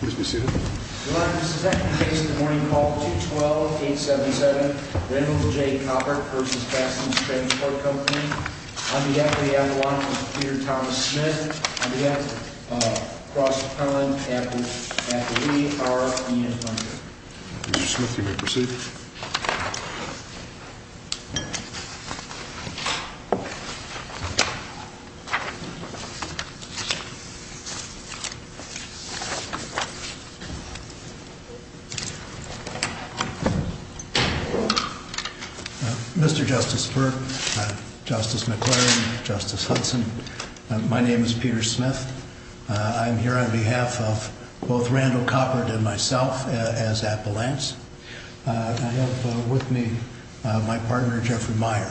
Mr. Smith, you may proceed. Mr. Justice Burke, Justice McClure and Justice Hudson, my name is Peter Smith. I am here on behalf of both Randall Coppert and myself as appellants. I have with me my partner Jeffrey Meyer.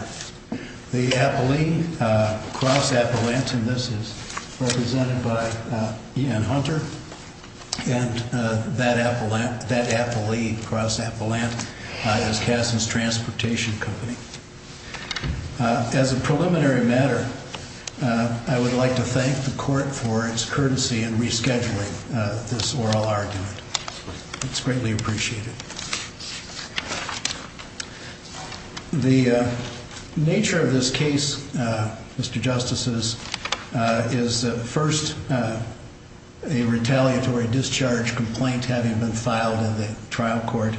The appellee cross-appellant, and this is represented by Ian Hunter, and that appellee cross-appellant is Cassens Transportation Co. As a preliminary matter, I would like to thank the Court for its courtesy in rescheduling this oral argument. It's greatly appreciated. The nature of this case, Mr. Justices, is first a retaliatory discharge complaint having been filed in the trial court.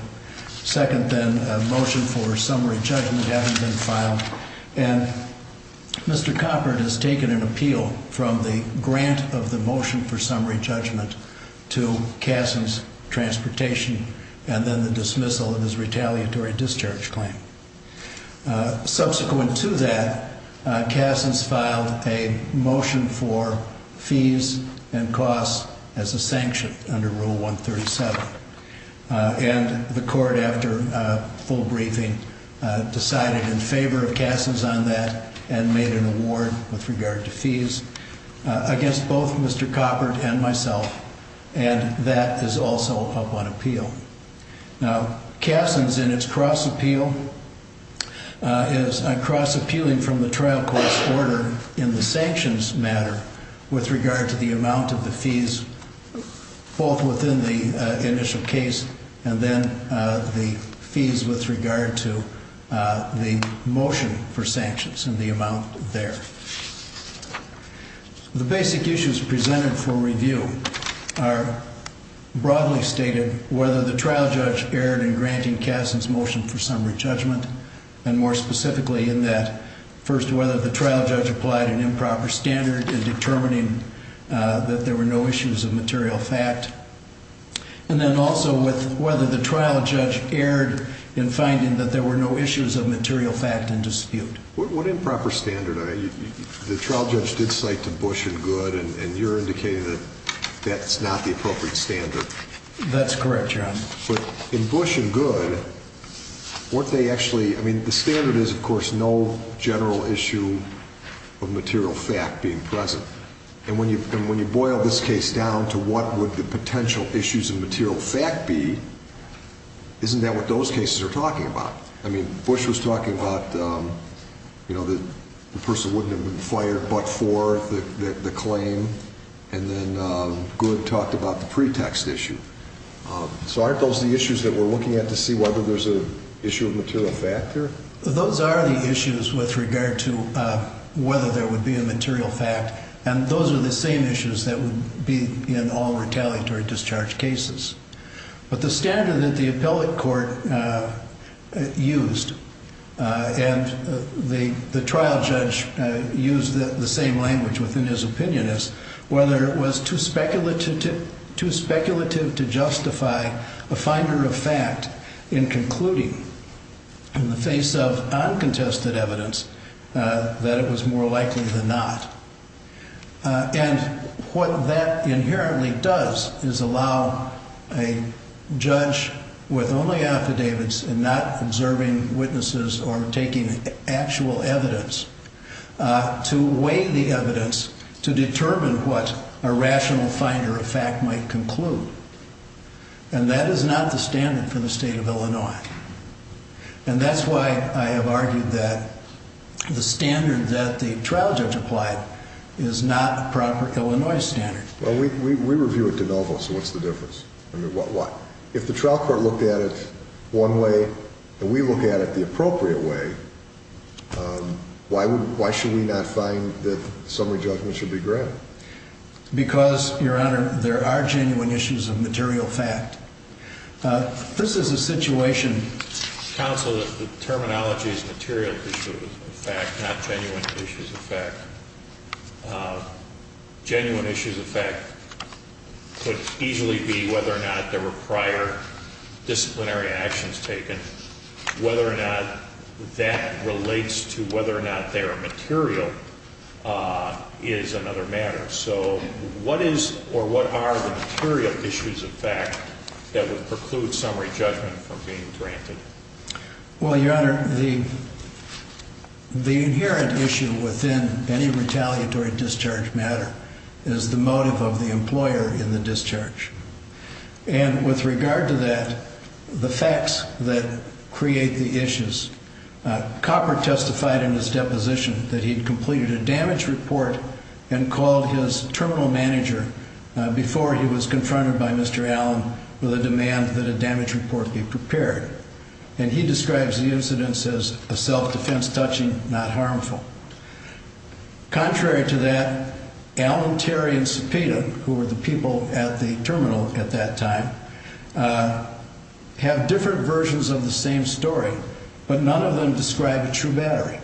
Second, then, a motion for summary judgment having been filed. And Mr. Coppert has taken an appeal from the grant of the motion for summary judgment to Cassens Transportation and then the dismissal of his retaliatory discharge claim. Subsequent to that, Cassens filed a motion for fees and costs as a sanction under Rule 137. And the Court, after a full briefing, decided in favor of Cassens on that and made an award with myself, and that is also up on appeal. Now, Cassens in its cross-appeal is cross-appealing from the trial court's order in the sanctions matter with regard to the amount of the fees both within the initial case and then the fees with regard to the motion for sanctions and the amount there. The basic issues presented for review are broadly stated, whether the trial judge erred in granting Cassens' motion for summary judgment, and more specifically in that, first, whether the trial judge applied an improper standard in determining that there were no issues of material fact, and then also with whether the trial judge erred in that there were no issues of material fact in dispute. What improper standard? The trial judge did cite to Bush and Good, and you're indicating that that's not the appropriate standard. That's correct, Your Honor. But in Bush and Good, weren't they actually, I mean, the standard is, of course, no general issue of material fact being present. And when you boil this case down to what would the potential issues of material fact be, isn't that what those cases are talking about? I mean, Bush was talking about, you know, the person wouldn't have been fired but for the claim, and then Good talked about the pretext issue. So aren't those the issues that we're looking at to see whether there's an issue of material fact there? Those are the issues with regard to whether there would be a material fact, and those are the same issues that would be in all retaliatory discharge cases. But the standard that the appellate court used and the trial judge used the same language within his opinion is whether it was too speculative to justify a finder of fact in concluding in the face of uncontested evidence that it was more likely than not. And what that inherently does is allow a judge with only affidavits and not observing witnesses or taking actual evidence to weigh the evidence to determine what a rational finder of fact might conclude. And that is not the standard for the state of Illinois. And that's why I have argued that the standard that the trial judge applied is not a proper Illinois standard. Well, we review it de novo, so what's the difference? I mean, why? If the trial court looked at it one way and we look at it the appropriate way, why should we not find that Because, Your Honor, there are genuine issues of material fact. This is a situation... Counsel, the terminology is material issues of fact, not genuine issues of fact. Genuine issues of fact could easily be whether or not there were prior disciplinary actions taken, whether or not that relates to whether or not there are material is another matter. So what is or what are the material issues of fact that would preclude summary judgment from being granted? Well, Your Honor, the inherent issue within any retaliatory discharge matter is the motive of the employer in the discharge. And with regard to that, the facts that create the issues. Copper testified in his deposition that he'd completed a damage report and called his terminal manager before he was confronted by Mr. Allen with a demand that a damage report be prepared. And he describes the incidents as a self-defense touching, not harmful. Contrary to that, Allen, Terry, and Cepeda, who were the people at the terminal at that time, have different versions of the same story, but none of them describe a true battery.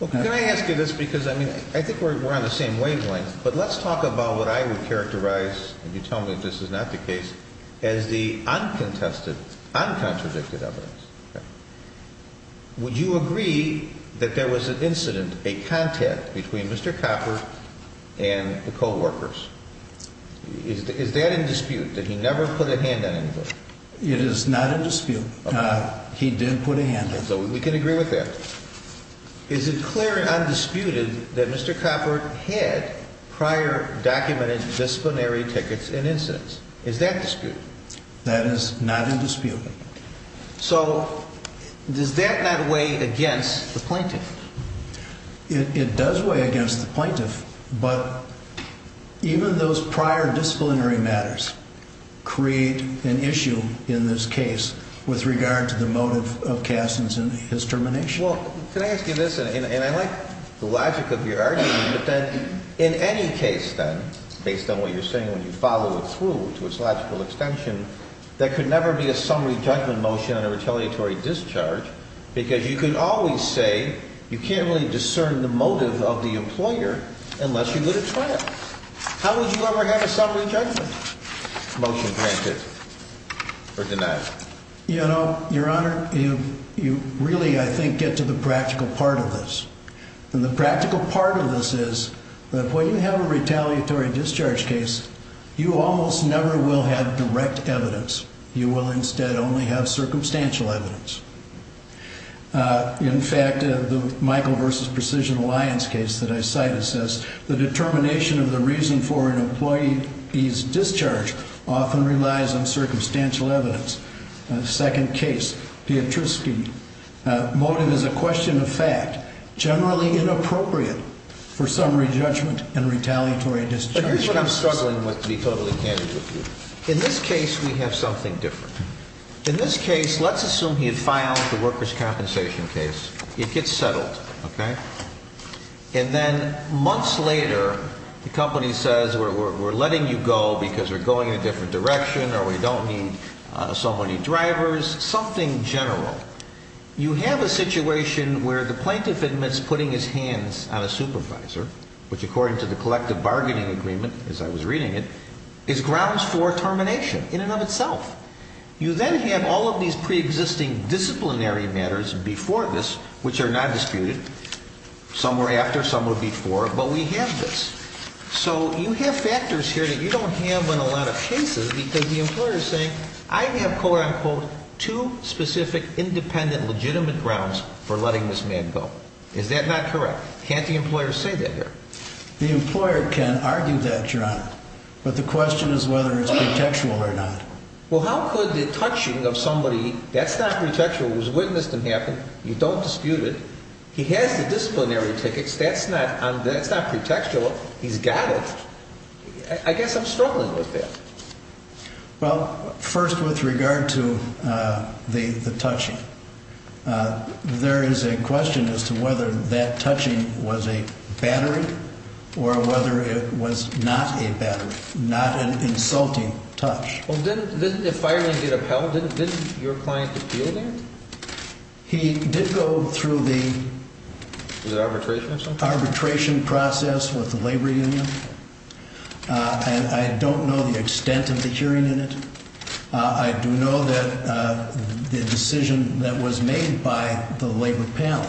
Well, can I ask you this? Because I mean, I think we're on the same wavelength, but let's talk about what I would characterize, and you tell me if this is not the case, as the uncontested, uncontradicted evidence. Would you agree that there was an incident, a contact between Mr. Copper and the co-workers? Is that in dispute, that he never put a hand on anybody? It is not in dispute. He didn't put a hand on anybody. We can agree with that. Is it clear and undisputed that Mr. Copper had prior documented disciplinary tickets and incidents? Is that in dispute? That is not in dispute. So does that not weigh against the plaintiff? It does weigh against the plaintiff, but even those prior disciplinary matters create an issue in this case with regard to the motive of Cassin's and his termination. Well, can I ask you this? And I like the logic of your argument, but that in any case, then, based on what you're saying, when you follow it through to its logical extension, there could never be a summary judgment motion on a retaliatory discharge because you could always say, you can't really discern the motive of the employer unless you would have tried it. How would you ever have a summary judgment motion granted or denied? You know, Your Honor, you really, I think, get to the practical part of this. And the practical part of this is that when you have a retaliatory discharge case, you almost never will have direct evidence. You will instead only have circumstantial evidence. In fact, the Michael versus Precision Alliance case that I cited says, the determination of the reason for an employee's discharge often relies on circumstantial evidence. The second case, Piotrowski, motive is a question of fact, generally inappropriate for summary judgment and retaliatory discharges. But here's what I'm struggling with, to be totally candid with you. In this case, we have something different. In this case, let's assume he had filed the workers' compensation case. It gets settled. And then months later, the company says, we're letting you go because we're going in a different direction or we don't need so many drivers, something general. You have a situation where the plaintiff admits putting his hands on a supervisor, which according to the collective bargaining agreement, as I was reading it, is grounds for termination in and of itself. You then have all of these preexisting disciplinary matters before this, which are not disputed. Some were after, some were before, but we have this. So you have factors here that you don't have in a lot of cases because the employer is saying, I have, quote, unquote, two specific, independent, legitimate grounds for letting this man go. Is that not correct? Can't the employer say that here? The employer can argue that, John, but the question is whether it's pretextual or not. Well, how could the touching of somebody, that's not pretextual, was witnessed and happened, you don't dispute it. He has the disciplinary tickets. That's not pretextual. He's got it. I guess I'm struggling with that. Well, first, with regard to the touching, there is a question as to whether that touching was a battery or whether it was not a battery, not an insulting touch. Well, didn't the firing get upheld? Didn't your client appeal that? He did go through the arbitration process with the labor union. I don't know the extent of the hearing in it. I do know that the decision that was made by the labor panel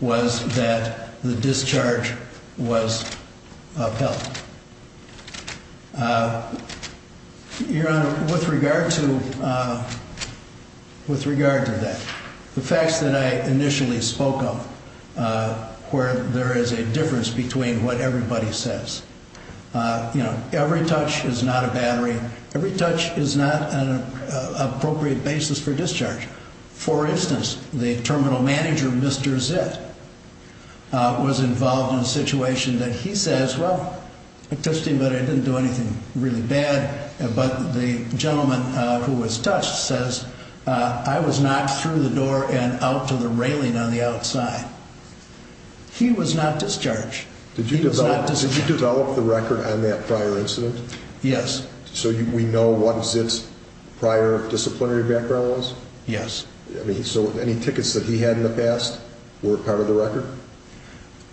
was that the discharge was upheld. Your Honor, with regard to that, the facts that I initially spoke of where there is a difference between what everybody says, you know, every touch is not a battery. Every touch is not an appropriate basis for discharge. For instance, the terminal manager, Mr. Zitt, was involved in a situation that he says, well, I touched him, but I didn't do anything really bad. But the gentleman who was touched says, I was knocked through the door and out to the railing on the outside. He was not discharged. Did you develop the record on that prior incident? Yes. So we know what Zitt's prior disciplinary background was? Yes. So any tickets that he had in the past were part of the record?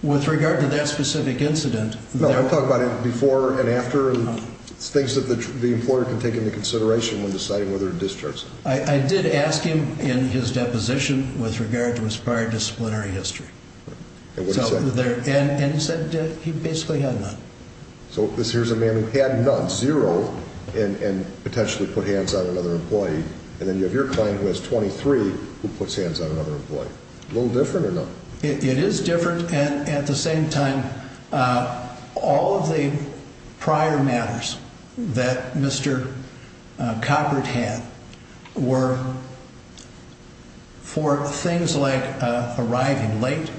With regard to that specific incident... No, I'm talking about before and after and things that the employer can take into consideration when deciding whether to discharge someone. I did ask him in his deposition with regard to his prior disciplinary history. And what did he say? And he said he basically had none. So here's a man who had none, zero, and potentially put hands on another employee. And then you have your client who has 23 who puts hands on another employee. A little different or no? It is different. At the same time, all of the prior matters that Mr. Coppert had were for things like arriving late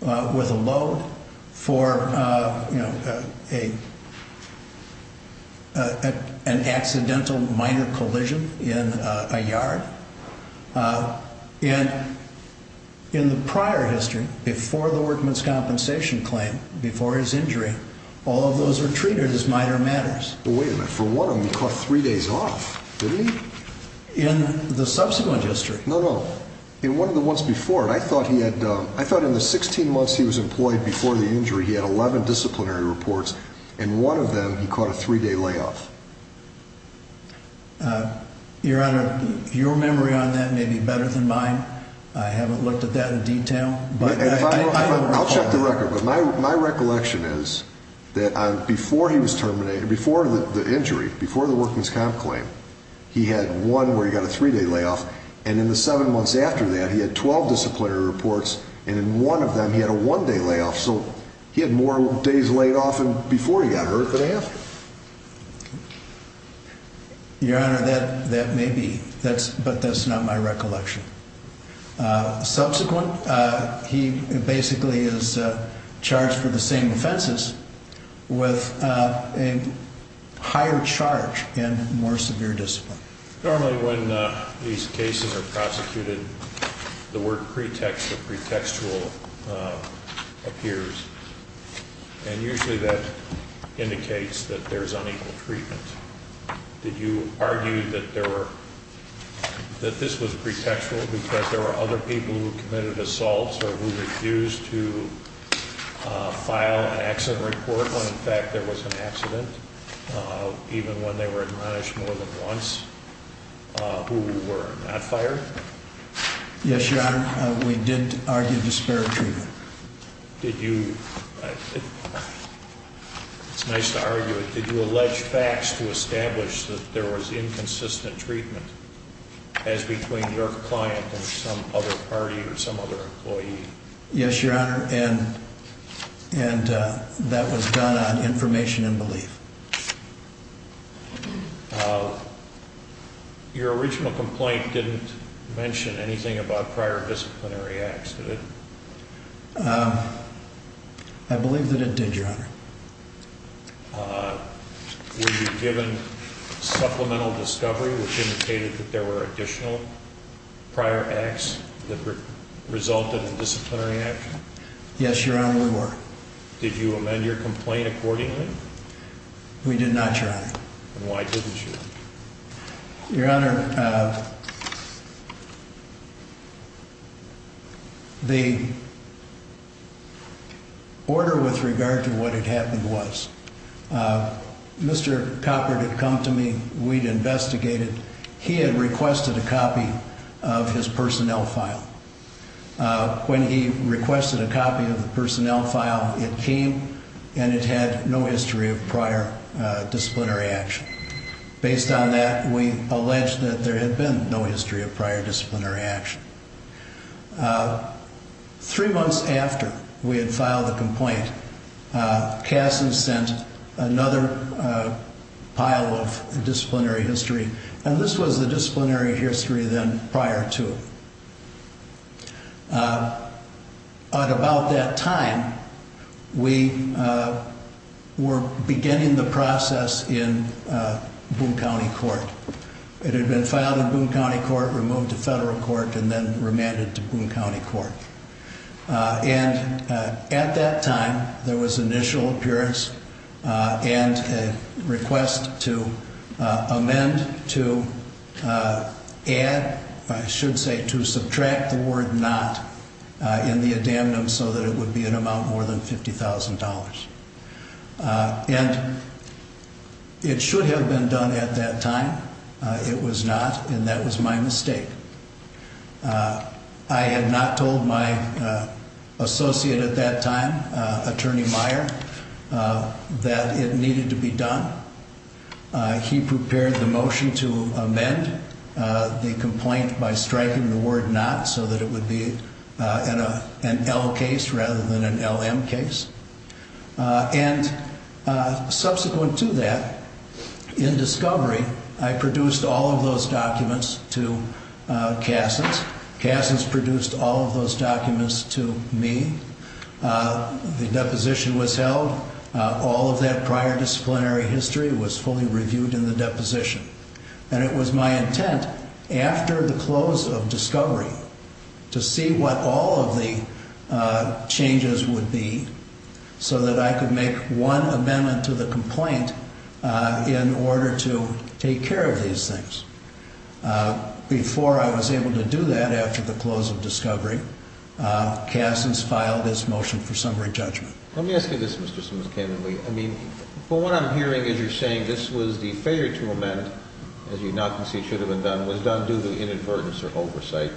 with a load, for an accidental minor collision in a yard. And in the prior history, before the workman's compensation claim, before his injury, all of those were treated as minor matters. Well, wait a minute. For one of them, he caught three days off, didn't he? In the subsequent history? No, no. In one of the ones before. I thought in the 16 months he was employed before the injury, he had 11 disciplinary reports. In one of them, he caught a three-day layoff. Your Honor, your memory on that may be better than mine. I haven't looked at that in detail. I'll check the record. But my recollection is that before he was terminated, before the injury, before the workman's comp claim, he had one where he got a three-day layoff. And in the seven months after that, he had 12 disciplinary reports. And in one of them, he had a one-day layoff. So he had more days laid off before he got hurt than after. Your Honor, that may be, but that's not my recollection. Subsequent, he basically is charged for the same offenses with a higher charge and more severe discipline. Normally when these cases are prosecuted, the word pretext or pretextual appears. And usually that indicates that there's unequal treatment. Did you argue that this was pretextual because there were other people who committed assaults or who refused to file an accident report when, in fact, there was an accident? Even when they were admonished more than once who were not fired? Yes, Your Honor. We did argue disparate treatment. Did you? It's nice to argue it. Did you allege facts to establish that there was inconsistent treatment as between your client and some other party or some other employee? Yes, Your Honor. And that was done on information and belief. Your original complaint didn't mention anything about prior disciplinary acts, did it? I believe that it did, Your Honor. Were you given supplemental discovery which indicated that there were additional prior acts that resulted in disciplinary action? Yes, Your Honor, we were. Did you amend your complaint accordingly? We did not, Your Honor. And why didn't you? Your Honor, the order with regard to what had happened was Mr. Copper had come to me. We'd investigated. He had requested a copy of his personnel file. When he requested a copy of the personnel file, it came and it had no history of prior disciplinary action. Based on that, we alleged that there had been no history of prior disciplinary action. Three months after we had filed the complaint, Cassie sent another pile of disciplinary history, and this was the disciplinary history then prior to it. At about that time, we were beginning the process in Boone County Court. It had been filed in Boone County Court, removed to federal court, and then remanded to Boone County Court. And at that time, there was initial appearance and a request to amend, to add, I should say to subtract the word not in the addendum so that it would be an amount more than $50,000. And it should have been done at that time. It was not, and that was my mistake. I had not told my associate at that time, Attorney Meyer, that it needed to be done. He prepared the motion to amend the complaint by striking the word not so that it would be an L case rather than an LM case. And subsequent to that, in discovery, I produced all of those documents to Cassie's. Cassie's produced all of those documents to me. The deposition was held. All of that prior disciplinary history was fully reviewed in the deposition. And it was my intent, after the close of discovery, to see what all of the changes would be so that I could make one amendment to the complaint in order to take care of these things. Before I was able to do that, after the close of discovery, Cassie's filed this motion for summary judgment. Let me ask you this, Mr. Simmons-Kamenly. I mean, from what I'm hearing as you're saying, this was the failure to amend, as you'd now concede should have been done, was done due to inadvertence or oversight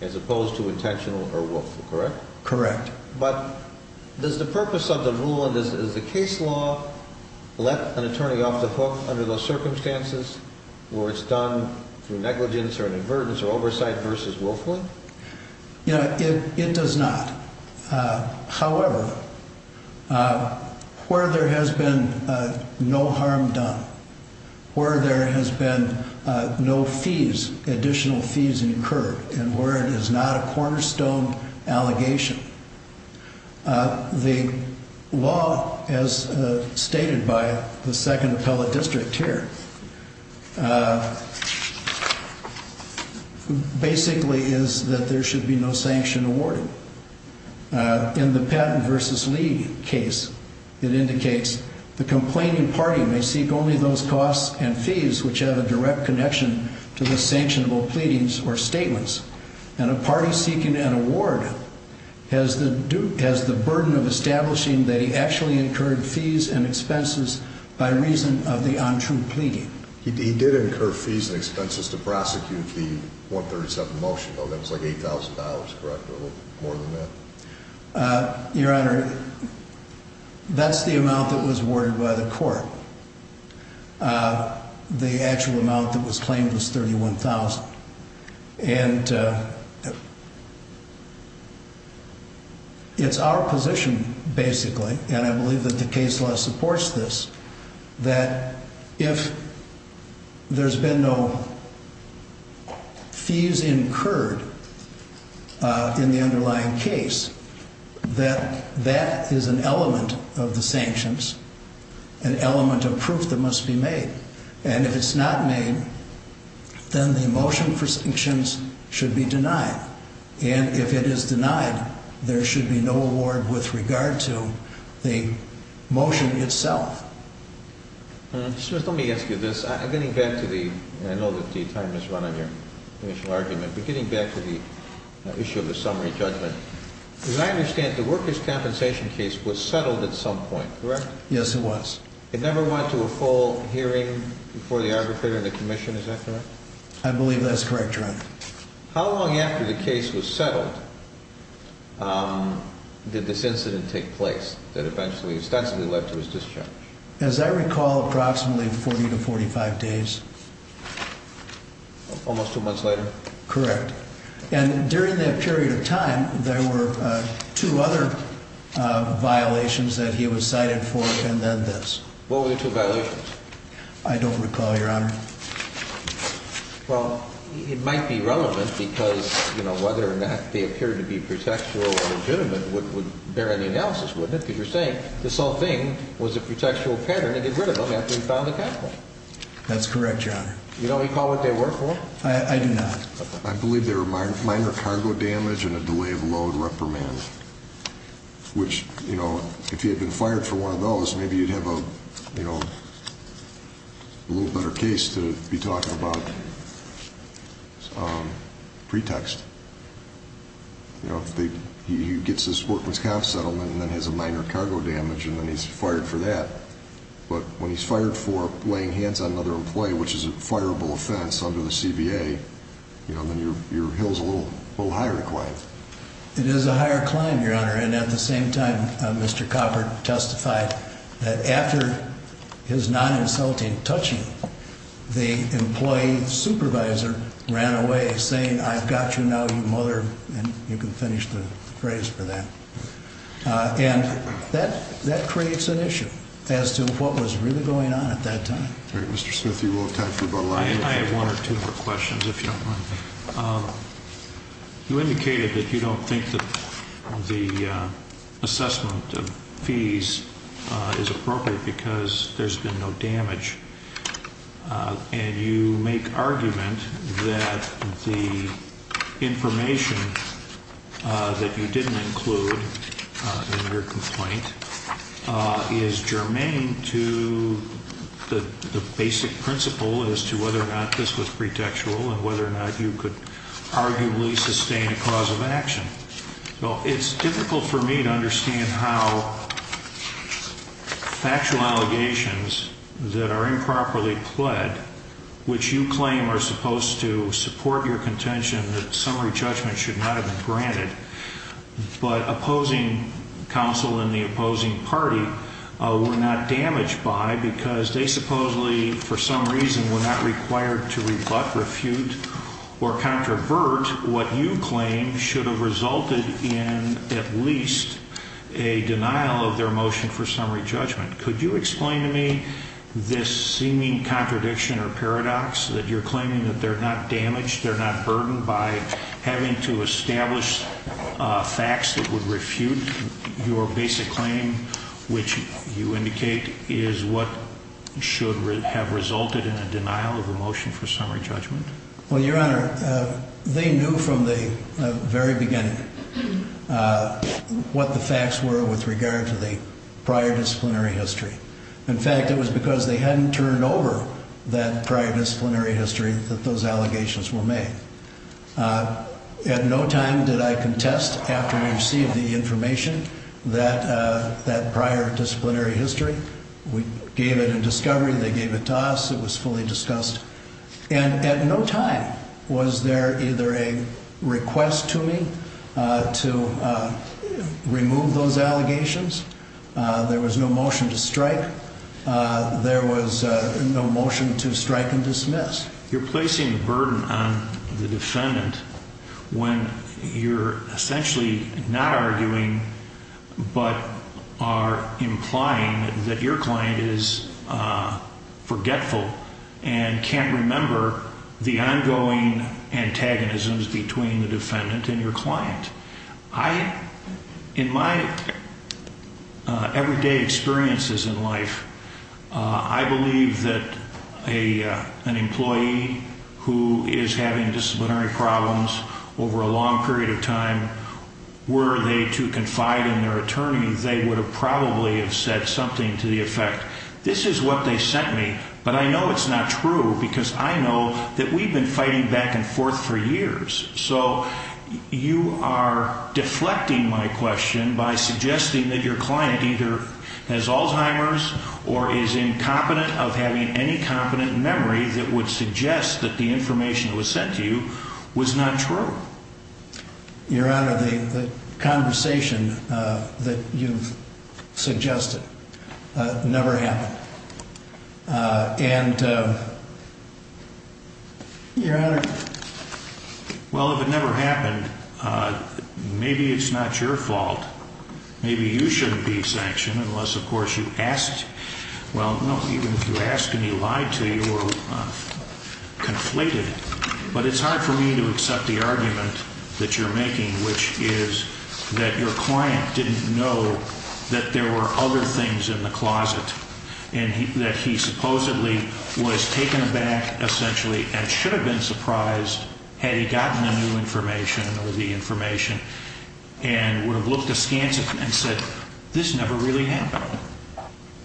as opposed to intentional or willful, correct? Correct. But does the purpose of the rule in this, does the case law let an attorney off the hook under those circumstances where it's done through negligence or inadvertence or oversight versus willfully? It does not. However, where there has been no harm done, where there has been no fees, additional fees incurred, and where it is not a cornerstone allegation, the law, as stated by the second appellate district here, basically is that there should be no sanction awarded. In the Patton v. Lee case, it indicates the complaining party may seek only those costs and fees which have a direct connection to the sanctionable pleadings or statements. And a party seeking an award has the burden of establishing that he actually incurred fees and expenses by reason of the untrue pleading. He did incur fees and expenses to prosecute the 137 motion, though. That was like $8,000, correct, or a little more than that? Your Honor, that's the amount that was awarded by the court. The actual amount that was claimed was $31,000. And it's our position, basically, and I believe that the case law supports this, that if there's been no fees incurred in the underlying case, that that is an element of the sanctions, an element of proof that must be made. And if it's not made, then the motion for sanctions should be denied. And if it is denied, there should be no award with regard to the motion itself. Mr. Smith, let me ask you this. I'm getting back to the—and I know that the time has run out of your initial argument—but getting back to the issue of the summary judgment. As I understand, the workers' compensation case was settled at some point, correct? Yes, it was. It never went to a full hearing before the arbitrator and the commission, is that correct? I believe that's correct, Your Honor. How long after the case was settled did this incident take place that eventually, ostensibly, led to his discharge? As I recall, approximately 40 to 45 days. Almost two months later? Correct. And during that period of time, there were two other violations that he was cited for, and then this. What were the two violations? I don't recall, Your Honor. Well, it might be relevant because, you know, whether or not they appeared to be pretextual or legitimate would bear any analysis, wouldn't it? Because you're saying this whole thing was a pretextual pattern and he got rid of them after he filed the capital. That's correct, Your Honor. You don't recall what they were for? I do not. I believe they were minor cargo damage and a delay of load reprimand, which, you know, if he had been fired for one of those, maybe you'd have a, you know, a little better case to be talking about pretext. You know, he gets this Fort Wisconsin settlement and then has a minor cargo damage and then he's fired for that. But when he's fired for laying hands on another employee, which is a fireable offense under the CBA, you know, then your hill's a little higher to climb. It is a higher climb, Your Honor. And at the same time, Mr. Copper testified that after his non-insulting touching, the employee supervisor ran away saying, I've got you now, you mother, and you can finish the phrase for that. And that creates an issue as to what was really going on at that time. All right, Mr. Smith, you will have time for about a lot of questions. I have one or two more questions, if you don't mind. You indicated that you don't think that the assessment of fees is appropriate because there's been no damage. And you make argument that the information that you didn't include in your complaint is germane to the basic principle as to whether or not this was pretextual and whether or not you could arguably sustain a cause of action. Well, it's difficult for me to understand how factual allegations that are improperly pled, which you claim are supposed to support your contention that summary judgment should not have been granted, but opposing counsel and the opposing party were not damaged by because they supposedly, for some reason, were not required to rebut, refute, or controvert what you claim should have resulted in at least a denial of their motion for summary judgment. Could you explain to me this seeming contradiction or paradox that you're claiming that they're not damaged, they're not burdened by having to establish facts that would refute your basic claim, which you indicate is what should have resulted in a denial of a motion for summary judgment? Well, Your Honor, they knew from the very beginning what the facts were with regard to the prior disciplinary history. In fact, it was because they hadn't turned over that prior disciplinary history that those allegations were made. At no time did I contest, after we received the information, that prior disciplinary history. We gave it in discovery, they gave it to us, it was fully discussed. And at no time was there either a request to me to remove those allegations, there was no motion to strike, there was no motion to strike and dismiss. You're placing a burden on the defendant when you're essentially not arguing but are implying that your client is forgetful and can't remember the ongoing antagonisms between the defendant and your client. In my everyday experiences in life, I believe that an employee who is having disciplinary problems over a long period of time, were they to confide in their attorney, they would have probably have said something to the effect, this is what they sent me, but I know it's not true because I know that we've been fighting back and forth for years. So you are deflecting my question by suggesting that your client either has Alzheimer's or is incompetent of having any competent memory that would suggest that the information that was sent to you was not true. Your Honor, the conversation that you've suggested never happened. And, Your Honor. Well, if it never happened, maybe it's not your fault. Maybe you shouldn't be sanctioned unless, of course, you asked. Well, no, even if you asked and he lied to you or conflated, but it's hard for me to accept the argument that you're making, which is that your client didn't know that there were other things in the closet. And that he supposedly was taken aback, essentially, and should have been surprised had he gotten the new information or the information and would have looked askance and said, this never really happened.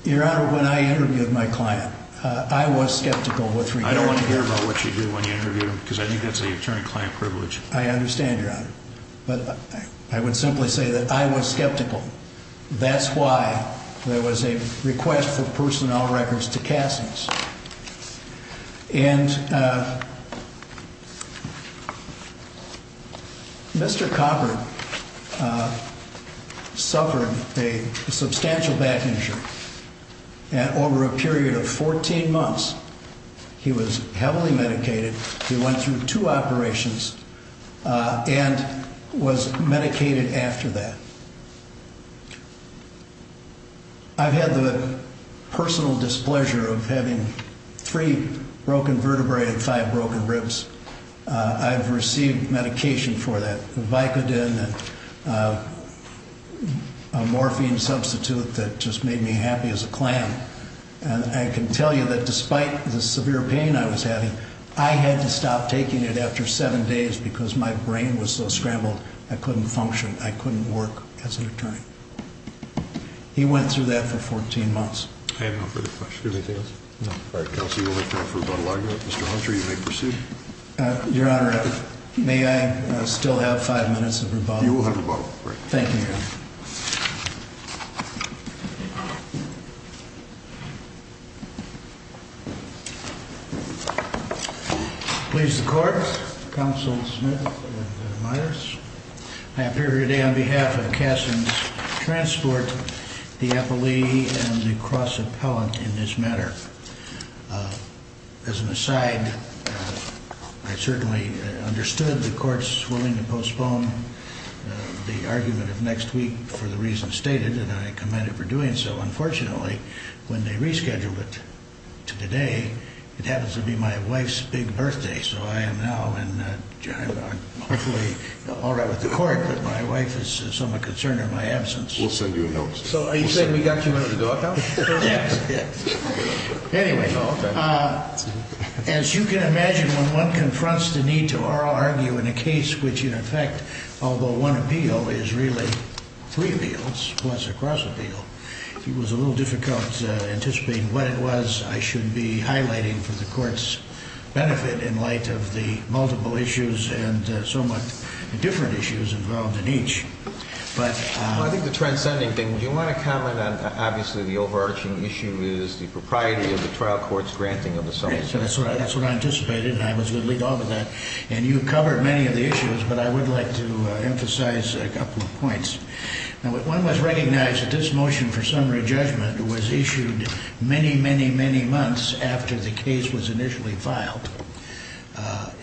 Your Honor, when I interviewed my client, I was skeptical. I don't want to hear about what you do when you interview him because I think that's an attorney-client privilege. I understand, Your Honor. But I would simply say that I was skeptical. That's why there was a request for personnel records to Cassings. And Mr. Copper suffered a substantial back injury. And over a period of 14 months, he was heavily medicated. He went through two operations and was medicated after that. I've had the personal displeasure of having three broken vertebrae and five broken ribs. I've received medication for that, Vicodin, a morphine substitute that just made me happy as a clam. And I can tell you that despite the severe pain I was having, I had to stop taking it after seven days because my brain was so scrambled, I couldn't function, I couldn't work as an attorney. He went through that for 14 months. I have no further questions. Anything else? No. All right, counsel, you will have time for rebuttal argument. Mr. Hunter, you may proceed. Your Honor, may I still have five minutes of rebuttal? You will have rebuttal. Thank you, Your Honor. Please, the court, counsel Smith and Meyers, I appear today on behalf of Kasson's Transport, the appellee, and the cross-appellant in this matter. As an aside, I certainly understood the court's willing to postpone the argument of next week for the reasons stated, and I commend it for doing so. Unfortunately, when they rescheduled it to today, it happens to be my wife's big birthday, so I am now in, hopefully, all right with the court, but my wife is somewhat concerned in my absence. We'll send you a note. So are you saying we got you out of the dark house? Yes. Anyway, as you can imagine, when one confronts the need to argue in a case which, in effect, although one appeal is really three appeals plus a cross-appeal, it was a little difficult anticipating what it was I should be highlighting for the court's benefit in light of the multiple issues and somewhat different issues involved in each. Well, I think the transcending thing, do you want to comment on, obviously, the overarching issue is the propriety of the trial court's granting of the summons? That's what I anticipated, and I was going to lead off with that. And you covered many of the issues, but I would like to emphasize a couple of points. Now, one must recognize that this motion for summary judgment was issued many, many, many months after the case was initially filed.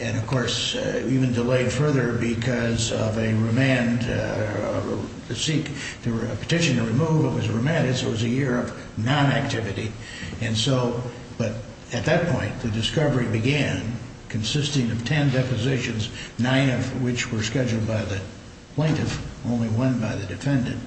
And, of course, even delayed further because of a remand, a petition to remove, it was remanded, so it was a year of non-activity. But at that point, the discovery began consisting of ten depositions, nine of which were scheduled by the plaintiff, only one by the defendant,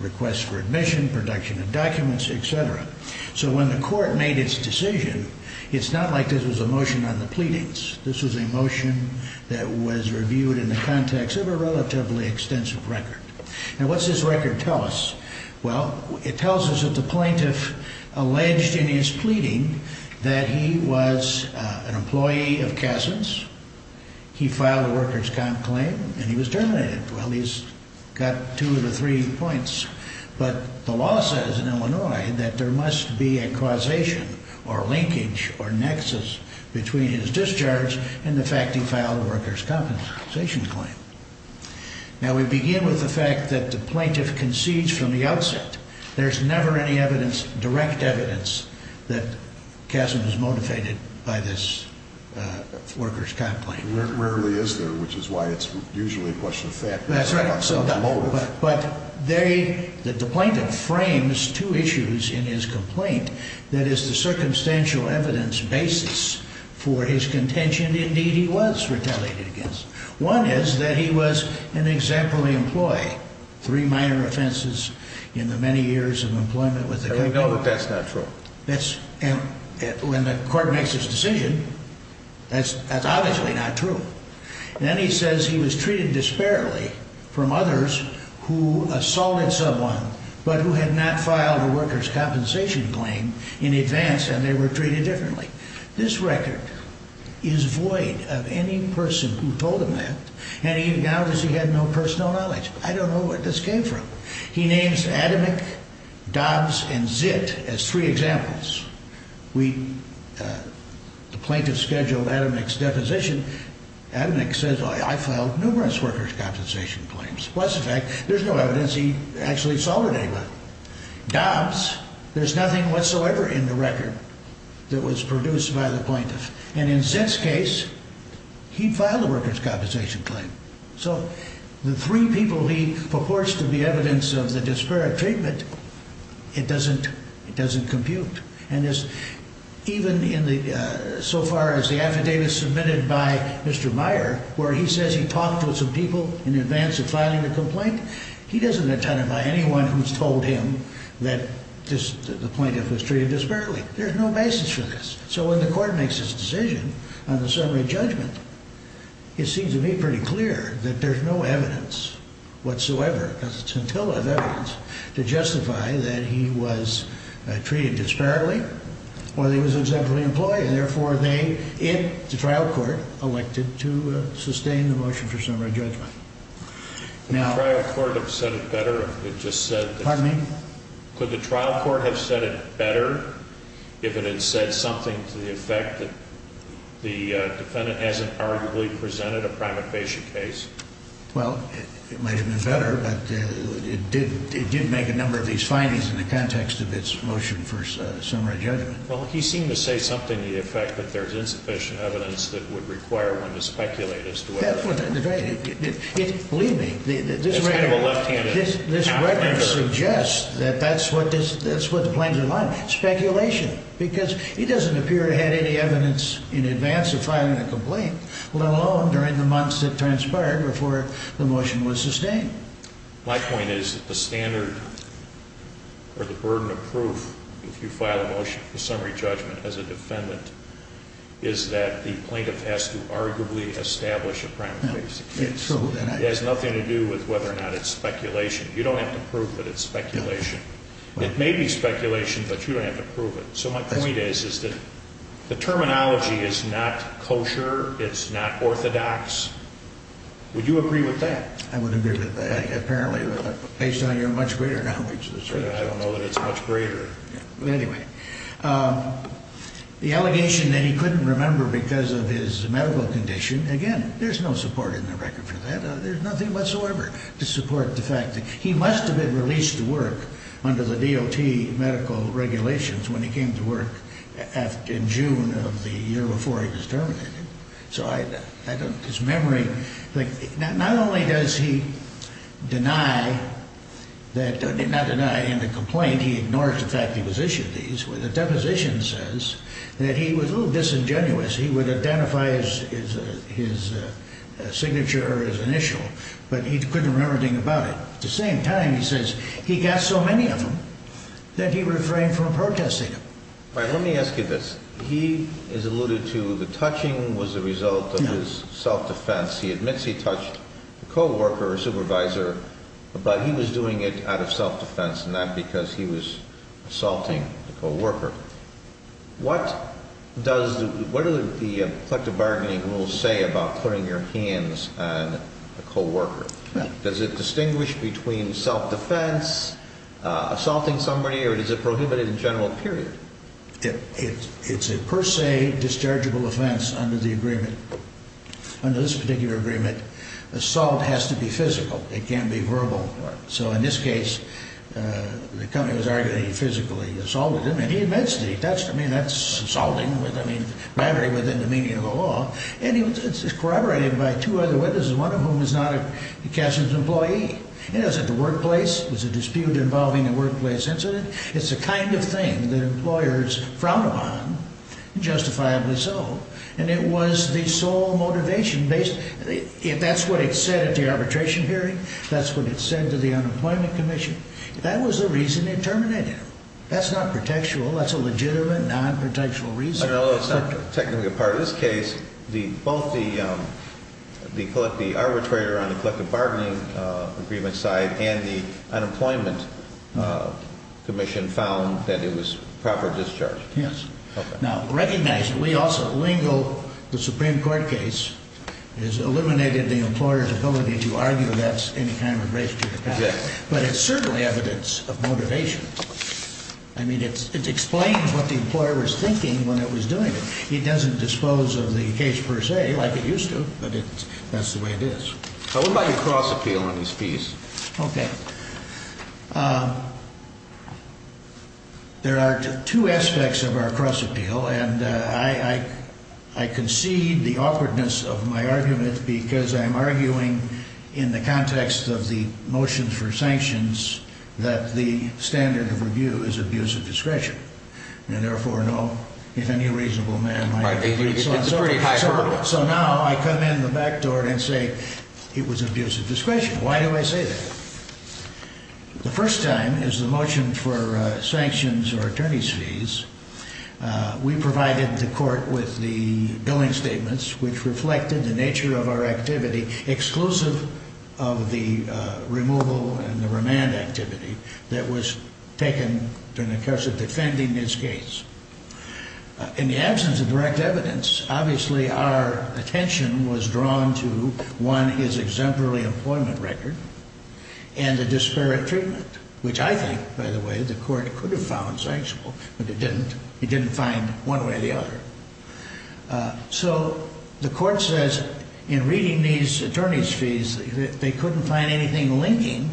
requests for admission, production of documents, et cetera. So when the court made its decision, it's not like this was a motion on the pleadings. This was a motion that was reviewed in the context of a relatively extensive record. Now, what's this record tell us? Well, it tells us that the plaintiff alleged in his pleading that he was an employee of Kazin's, he filed a workers' comp claim, and he was terminated. Well, he's got two of the three points. But the law says in Illinois that there must be a causation or linkage or nexus between his discharge and the fact he filed a workers' compensation claim. Now, we begin with the fact that the plaintiff concedes from the outset. There's never any evidence, direct evidence, that Kazin was motivated by this workers' comp claim. Rarely is there, which is why it's usually a question of fact. That's right. But the plaintiff frames two issues in his complaint that is the circumstantial evidence basis for his contention. Indeed, he was retaliated against. One is that he was an exemplary employee. Three minor offenses in the many years of employment with the company. I know that that's not true. When the court makes its decision, that's obviously not true. Then he says he was treated disparately from others who assaulted someone but who had not filed a workers' compensation claim in advance, and they were treated differently. This record is void of any person who told him that, and even now he has no personal knowledge. I don't know where this came from. He names Adamic, Dobbs, and Zitt as three examples. The plaintiff scheduled Adamic's deposition. Adamic says, I filed numerous workers' compensation claims. Plus the fact there's no evidence he actually assaulted anyone. Dobbs, there's nothing whatsoever in the record that was produced by the plaintiff. And in Zitt's case, he filed a workers' compensation claim. So the three people he purports to be evidence of the disparate treatment, it doesn't compute. Even so far as the affidavit submitted by Mr. Meyer, where he says he talked with some people in advance of filing the complaint, he doesn't identify anyone who's told him that the plaintiff was treated disparately. There's no basis for this. Could the trial court have said it better if it had said something to the effect that the defendant hasn't arguably presented a primate patient case? Well, it might have been better, but it did make a number of these findings in the context of its motion for summary judgment. Well, he seemed to say something to the effect that there's insufficient evidence that would require one to speculate as to whether. Believe me, this suggests that that's what the plaintiff wanted, speculation, because he doesn't appear to have any evidence in advance of filing a complaint, let alone during the months that transpired before the motion was sustained. My point is that the standard or the burden of proof, if you file a motion for summary judgment as a defendant, is that the plaintiff has to arguably establish a primate patient case. It has nothing to do with whether or not it's speculation. You don't have to prove that it's speculation. It may be speculation, but you don't have to prove it. So my point is that the terminology is not kosher. It's not orthodox. Would you agree with that? I would agree with that, apparently, based on your much greater knowledge. I don't know that it's much greater. Anyway, the allegation that he couldn't remember because of his medical condition, again, there's no support in the record for that. There's nothing whatsoever to support the fact that he must have been released to work under the DOT medical regulations when he came to work in June of the year before he was terminated. So I don't – his memory – not only does he deny that – not deny in the complaint, he ignores the fact he was issued these. The deposition says that he was a little disingenuous. He would identify his signature or his initial, but he couldn't remember anything about it. At the same time, he says he got so many of them that he refrained from protesting them. All right, let me ask you this. He has alluded to the touching was a result of his self-defense. He admits he touched a co-worker or a supervisor, but he was doing it out of self-defense and not because he was assaulting a co-worker. What does – what do the collective bargaining rules say about putting your hands on a co-worker? Does it distinguish between self-defense, assaulting somebody, or is it prohibited in general, period? It's a per se dischargeable offense under the agreement. Under this particular agreement, assault has to be physical. It can't be verbal. So in this case, the company was arguing that he physically assaulted him, and he admits that he touched him. I mean, that's assaulting with – I mean, battery within the meaning of the law. And it's corroborated by two other witnesses, one of whom is not a Kessler's employee. It was at the workplace. It was a dispute involving a workplace incident. It's the kind of thing that employers frown upon, justifiably so. And it was the sole motivation based – that's what it said at the arbitration hearing. That's what it said to the Unemployment Commission. That was the reason they terminated him. That's not protectual. That's a legitimate, non-protectual reason. Although it's not technically a part of this case, both the arbitrator on the collective bargaining agreement side and the Unemployment Commission found that it was proper discharge. Yes. Okay. Now, recognize that we also lingo the Supreme Court case. It has eliminated the employer's ability to argue that's any kind of a breach to the patent. But it's certainly evidence of motivation. I mean, it explains what the employer was thinking when it was doing it. It doesn't dispose of the case per se like it used to, but that's the way it is. What about your cross-appeal on these fees? Okay. There are two aspects of our cross-appeal, and I concede the awkwardness of my argument because I'm arguing in the context of the motions for sanctions that the standard of review is abuse of discretion. And therefore, no, if any reasonable man might agree. Right. It's a pretty high hurdle. So now I come in the back door and say it was abuse of discretion. Why do I say that? The first time is the motion for sanctions or attorney's fees. We provided the court with the billing statements, which reflected the nature of our activity, exclusive of the removal and the remand activity that was taken during the course of defending this case. In the absence of direct evidence, obviously our attention was drawn to, one, his exemplary employment record and the disparate treatment, which I think, by the way, the court could have found sanctionable but it didn't. It didn't find one way or the other. So the court says in reading these attorney's fees that they couldn't find anything linking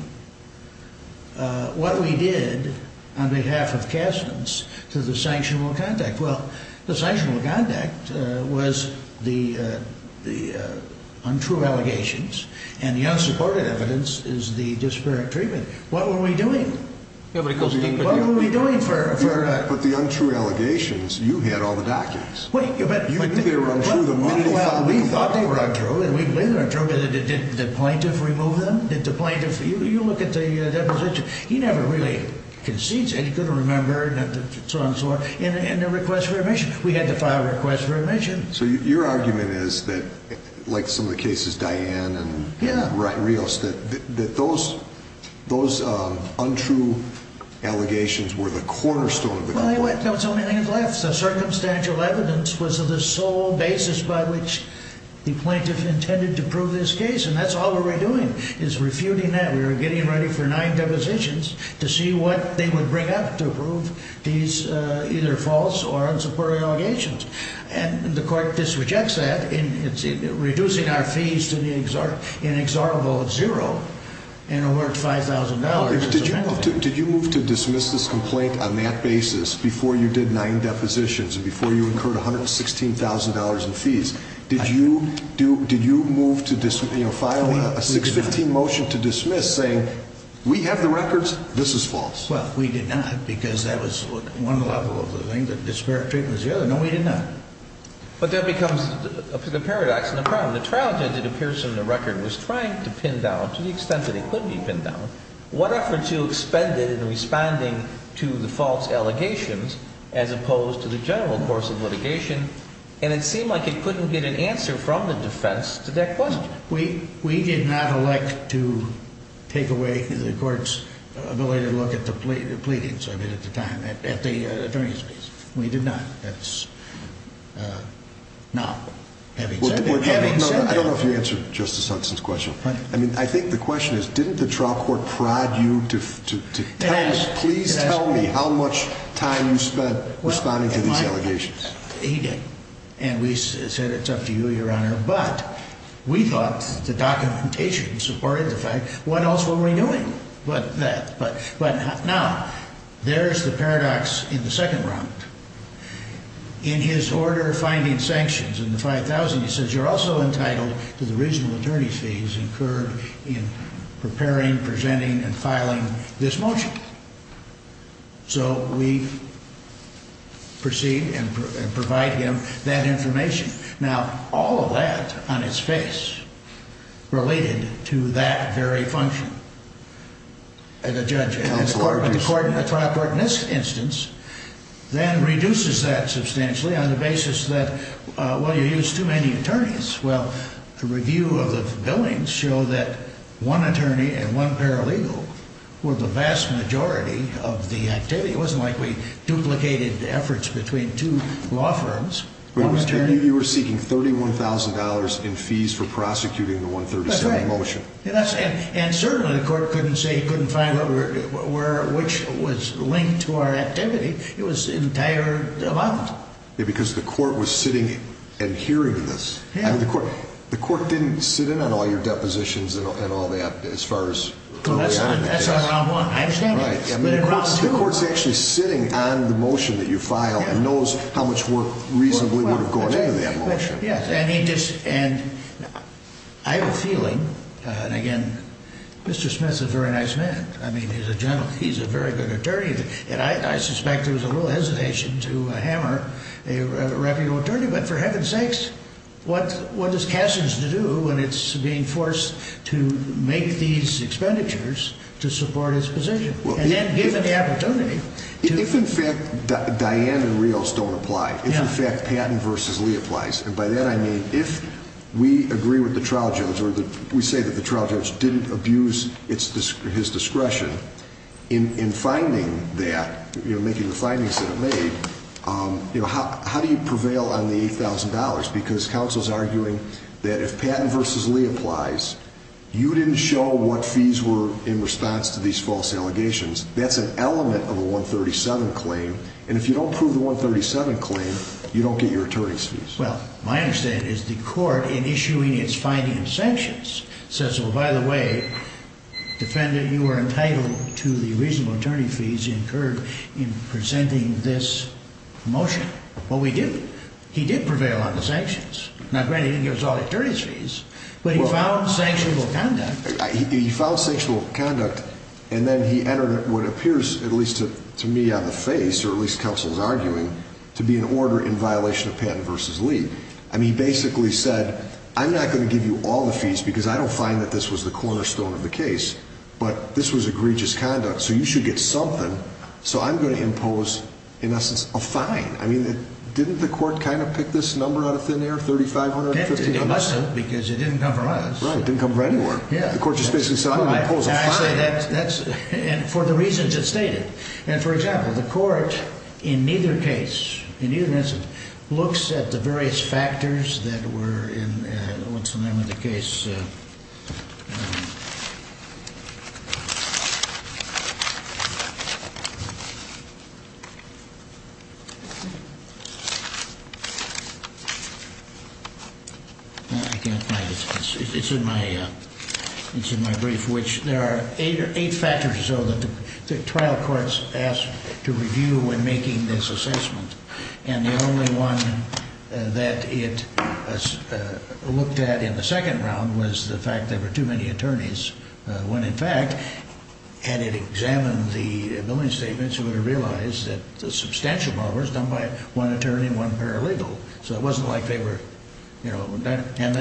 what we did on behalf of Kasson's to the sanctionable contact. Well, the sanctionable contact was the untrue allegations, and the unsupported evidence is the disparate treatment. What were we doing? What were we doing? But the untrue allegations, you had all the documents. You knew they were untrue. We thought they were untrue. Did the plaintiff remove them? Did the plaintiff? You look at the deposition. He never really concedes anything. He couldn't remember and so on and so forth. And the request for remission. We had to file a request for remission. So your argument is that, like some of the cases, Diane and Rios, that those untrue allegations were the cornerstone of the complaint. Well, that was the only thing that's left. The circumstantial evidence was the sole basis by which the plaintiff intended to prove this case. And that's all we were doing is refuting that. We were getting ready for nine depositions to see what they would bring up to prove these either false or unsupported allegations. And the court disrejects that in reducing our fees to the inexorable at zero. And it worked $5,000. Did you move to dismiss this complaint on that basis before you did nine depositions and before you incurred $116,000 in fees? Did you move to file a 615 motion to dismiss saying we have the records, this is false? Well, we did not because that was one level of the thing, that disparate treatment was the other. No, we did not. But that becomes the paradox and the problem. The trial judge, it appears in the record, was trying to pin down, to the extent that he could be pinned down, what efforts you expended in responding to the false allegations as opposed to the general course of litigation. And it seemed like he couldn't get an answer from the defense to that question. We did not elect to take away the court's ability to look at the pleadings of it at the time, at the attorney's case. We did not. That's not having said that. I don't know if you answered Justice Hudson's question. I mean, I think the question is, didn't the trial court prod you to tell us, please tell me how much time you spent responding to these allegations? He did. And we said it's up to you, Your Honor. But we thought the documentation supported the fact. What else were we doing but that? But now, there's the paradox in the second round. In his order finding sanctions in the 5000, he says you're also entitled to the regional attorney's fees incurred in preparing, presenting, and filing this motion. So we proceed and provide him that information. Now, all of that on its face related to that very function. The trial court in this instance then reduces that substantially on the basis that, well, you used too many attorneys. Well, the review of the billings show that one attorney and one paralegal were the vast majority of the activity. It wasn't like we duplicated efforts between two law firms. You were seeking $31,000 in fees for prosecuting the 137 motion. And certainly the court couldn't say he couldn't file it, which was linked to our activity. It was an entire amount. Yeah, because the court was sitting and hearing this. The court didn't sit in on all your depositions and all that as far as coming out of the case. That's on round one. I understand that. The court's actually sitting on the motion that you filed and knows how much work reasonably would have gone into that motion. Yes, and I have a feeling, and again, Mr. Smith's a very nice man. I mean, he's a very good attorney. And I suspect there was a little hesitation to hammer a reputable attorney. But for heaven's sakes, what is Cassius to do when it's being forced to make these expenditures to support his position? And then given the opportunity. If in fact Diane and Rios don't apply, if in fact Patton versus Lee applies, and by that I mean if we agree with the trial judge or we say that the trial judge didn't abuse his discretion in finding that, making the findings that it made, how do you prevail on the $8,000? Because counsel's arguing that if Patton versus Lee applies, you didn't show what fees were in response to these false allegations. That's an element of a 137 claim. And if you don't prove the 137 claim, you don't get your attorney's fees. Well, my understanding is the court, in issuing its finding of sanctions, says, well, by the way, defendant, you are entitled to the reasonable attorney fees incurred in presenting this motion. Well, we didn't. He did prevail on the sanctions. Now, granted, he didn't give us all the attorney's fees, but he filed sanctionable conduct. He filed sanctionable conduct, and then he entered what appears, at least to me on the face, or at least counsel's arguing, to be an order in violation of Patton versus Lee. And he basically said, I'm not going to give you all the fees because I don't find that this was the cornerstone of the case, but this was egregious conduct, so you should get something. So I'm going to impose, in essence, a fine. I mean, didn't the court kind of pick this number out of thin air, 3,500? It must have because it didn't come from us. Right. It didn't come from anywhere. The court just basically said, I'm going to impose a fine. And for the reasons it stated. And, for example, the court in neither case, in either instance, looks at the various factors that were in what's the name of the case. I can't find it. It's in my brief, which there are eight factors or so that the trial courts asked to review when making this assessment. And the only one that it looked at in the second round was the fact that there were too many attorneys. When, in fact, had it examined the billing statements, it would have realized that a substantial part was done by one attorney and one paralegal. So it wasn't like they were, you know. And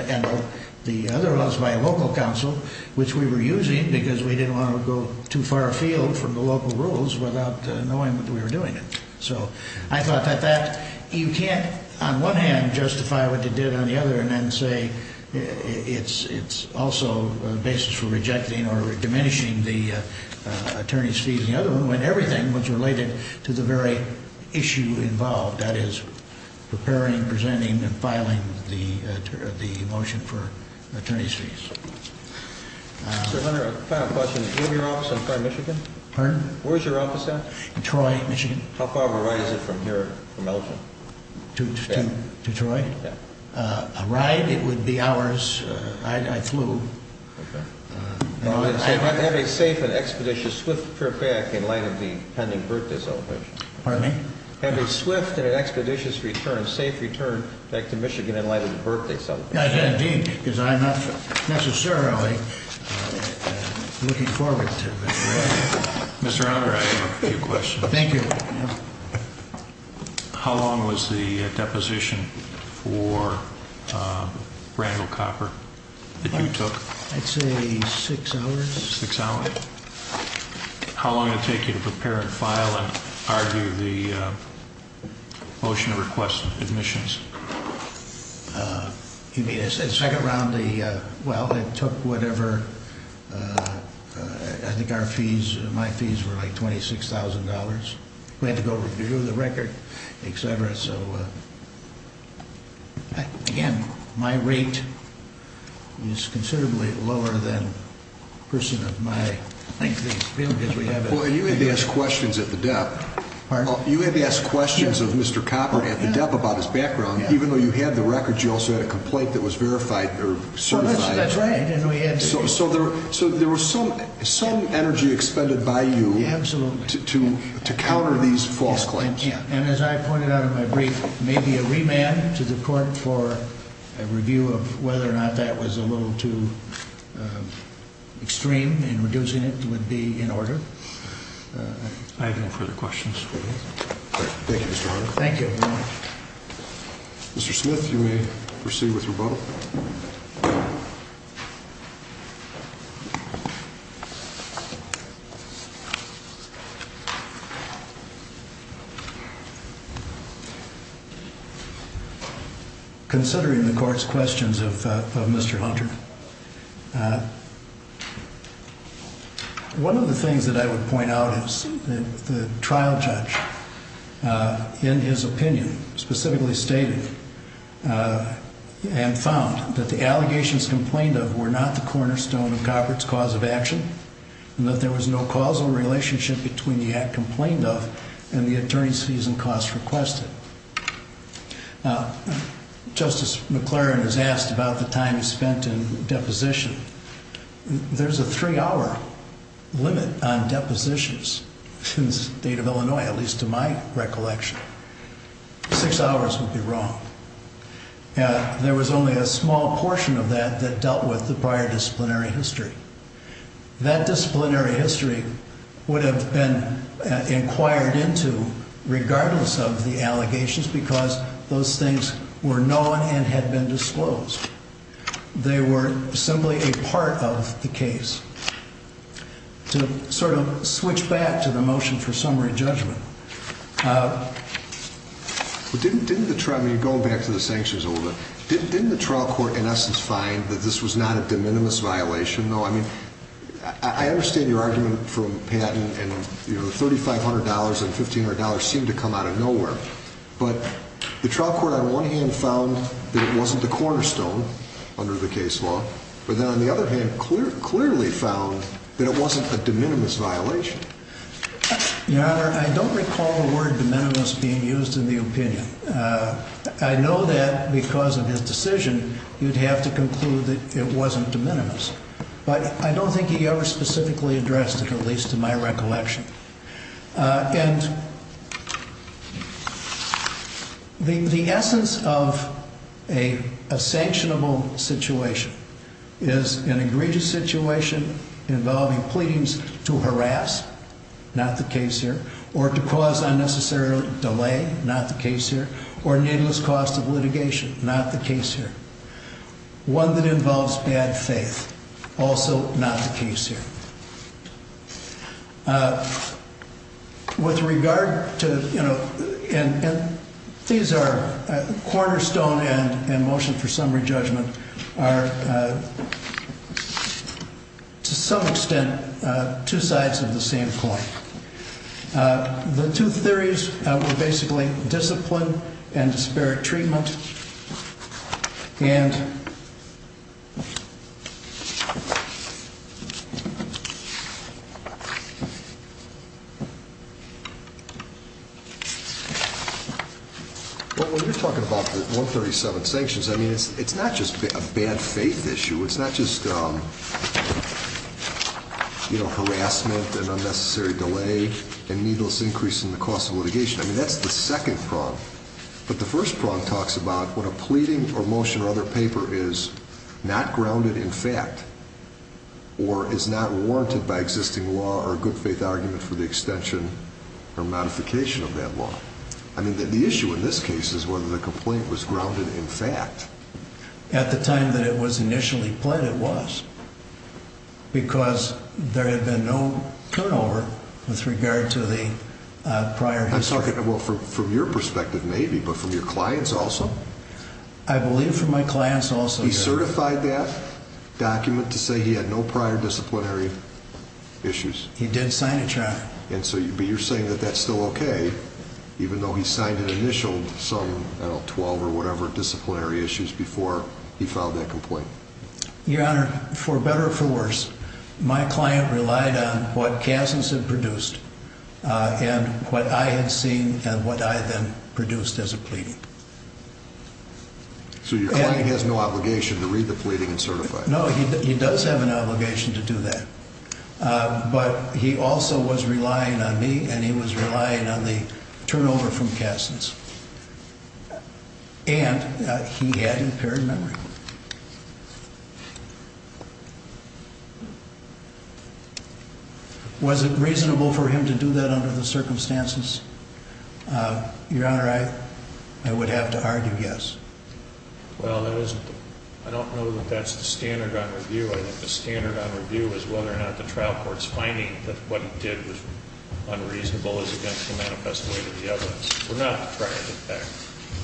the other was by a local counsel, which we were using because we didn't want to go too far afield from the local rules without knowing that we were doing it. So I thought that you can't, on one hand, justify what they did on the other and then say it's also a basis for rejecting or diminishing the attorney's fees. The other one, when everything was related to the very issue involved. That is, preparing, presenting, and filing the motion for attorney's fees. Final question. Is your office in Troy, Michigan? Pardon? Where's your office at? Troy, Michigan. How far of a ride is it from here, from Elgin? To Troy? Yeah. A ride, it would be hours. I flew. Okay. Have a safe and expeditious swift trip back in light of the pending birthday celebration. Pardon me? Have a swift and an expeditious return, safe return, back to Michigan in light of the birthday celebration. Indeed, because I'm not necessarily looking forward to it. Mr. Hunter, I have a few questions. Thank you. How long was the deposition for Randall Copper that you took? I'd say six hours. Six hours? How long did it take you to prepare and file and argue the motion to request admissions? You mean the second round? Well, it took whatever, I think our fees, my fees were like $26,000. We had to go review the record, et cetera. So, again, my rate is considerably lower than the person of my, I think, field. Well, you had to ask questions at the dep. Pardon? You had to ask questions of Mr. Copper at the dep. about his background. Even though you had the record, you also had a complaint that was verified or certified. That's right. So there was some energy expended by you to counter these false claims. And as I pointed out in my brief, maybe a remand to the court for a review of whether or not that was a little too extreme and reducing it would be in order. I have no further questions. Thank you, Mr. Hunter. Thank you very much. Mr. Smith, you may proceed with rebuttal. Considering the court's questions of Mr. Hunter, one of the things that I would point out is the trial judge, in his opinion, specifically stated and found that the allegations complained of were not the cornerstone of Copperett's cause of action and that there was no causal relationship between the act complained of and the attorney's fees and costs requested. Justice McLaren has asked about the time he spent in deposition. There's a three-hour limit on depositions in the state of Illinois, at least to my recollection. Six hours would be wrong. There was only a small portion of that that dealt with the prior disciplinary history. That disciplinary history would have been inquired into regardless of the allegations because those things were known and had been disclosed. They were simply a part of the case. To sort of switch back to the motion for summary judgment. Going back to the sanctions a little bit, didn't the trial court in essence find that this was not a de minimis violation? I understand your argument from Patton and the $3,500 and $1,500 seemed to come out of nowhere, but the trial court on one hand found that it wasn't the cornerstone under the case law, but then on the other hand clearly found that it wasn't a de minimis violation. Your Honor, I don't recall the word de minimis being used in the opinion. I know that because of his decision, you'd have to conclude that it wasn't de minimis, but I don't think he ever specifically addressed it, at least to my recollection. The essence of a sanctionable situation is an egregious situation involving pleadings to harass, not the case here, or to cause unnecessary delay, not the case here, or needless cost of litigation, not the case here. One that involves bad faith, also not the case here. With regard to, you know, these are cornerstone and motion for summary judgment are to some extent two sides of the same coin. The two theories were basically discipline and disparate treatment. And when you're talking about 137 sanctions, I mean, it's not just a bad faith issue. It's not just, you know, harassment and unnecessary delay and needless increase in the cost of litigation. I mean, that's the second prong. But the first prong talks about when a pleading or motion or other paper is not grounded in fact or is not warranted by existing law or good faith argument for the extension or modification of that law. I mean, the issue in this case is whether the complaint was grounded in fact. At the time that it was initially pled, it was because there had been no turnover with regard to the prior history. I'm talking about from your perspective, maybe, but from your clients also. I believe from my clients also. He certified that document to say he had no prior disciplinary issues. He did sign a charge. And so you're saying that that's still OK, even though he signed an initial some 12 or whatever disciplinary issues before he filed that complaint. Your Honor, for better or for worse, my client relied on what Kansas had produced and what I had seen and what I then produced as a pleading. So your client has no obligation to read the pleading and certify. No, he does have an obligation to do that. But he also was relying on me and he was relying on the turnover from Kansas. And he had impaired memory. Was it reasonable for him to do that under the circumstances? Your Honor, I would have to argue yes. Well, I don't know that that's the standard on review. I think the standard on review is whether or not the trial court's finding that what he did was unreasonable is against the manifest way to the evidence. We're not trying to do that.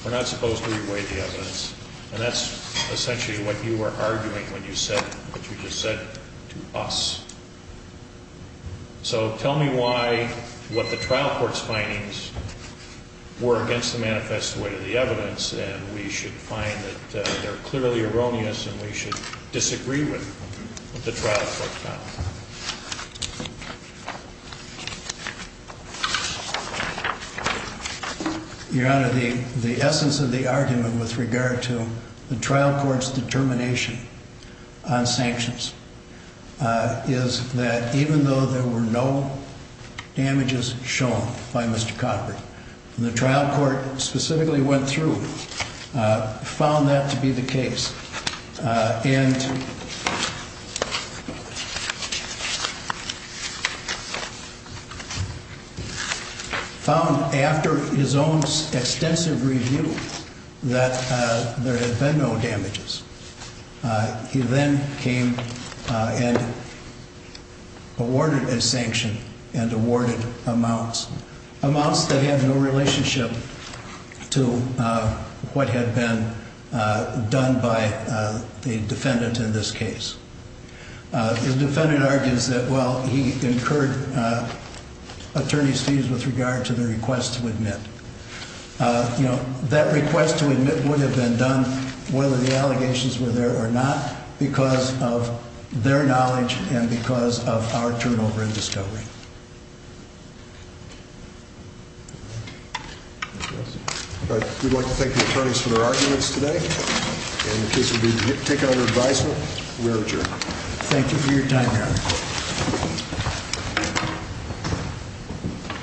We're not supposed to weigh the evidence. And that's essentially what you were arguing when you said what you just said to us. So tell me why what the trial court's findings were against the manifest way to the evidence. And we should find that they're clearly erroneous and we should disagree with the trial court. Your Honor, the essence of the argument with regard to the trial court's determination on sanctions is that even though there were no damages shown by Mr. Kansas, the defendant found after his own extensive review that there had been no damages. He then came and awarded a sanction and awarded amounts, amounts that had no relationship to what had been done by the defendant in this case. The defendant argues that, well, he incurred attorney's fees with regard to the request to admit, you know, that request to admit what had been done, whether the allegations were there or not, because of their knowledge and because of our turnover in discovery. We'd like to thank the attorneys for their arguments today, and the case will be taken under advisement where adjourned. Thank you for your time, Your Honor.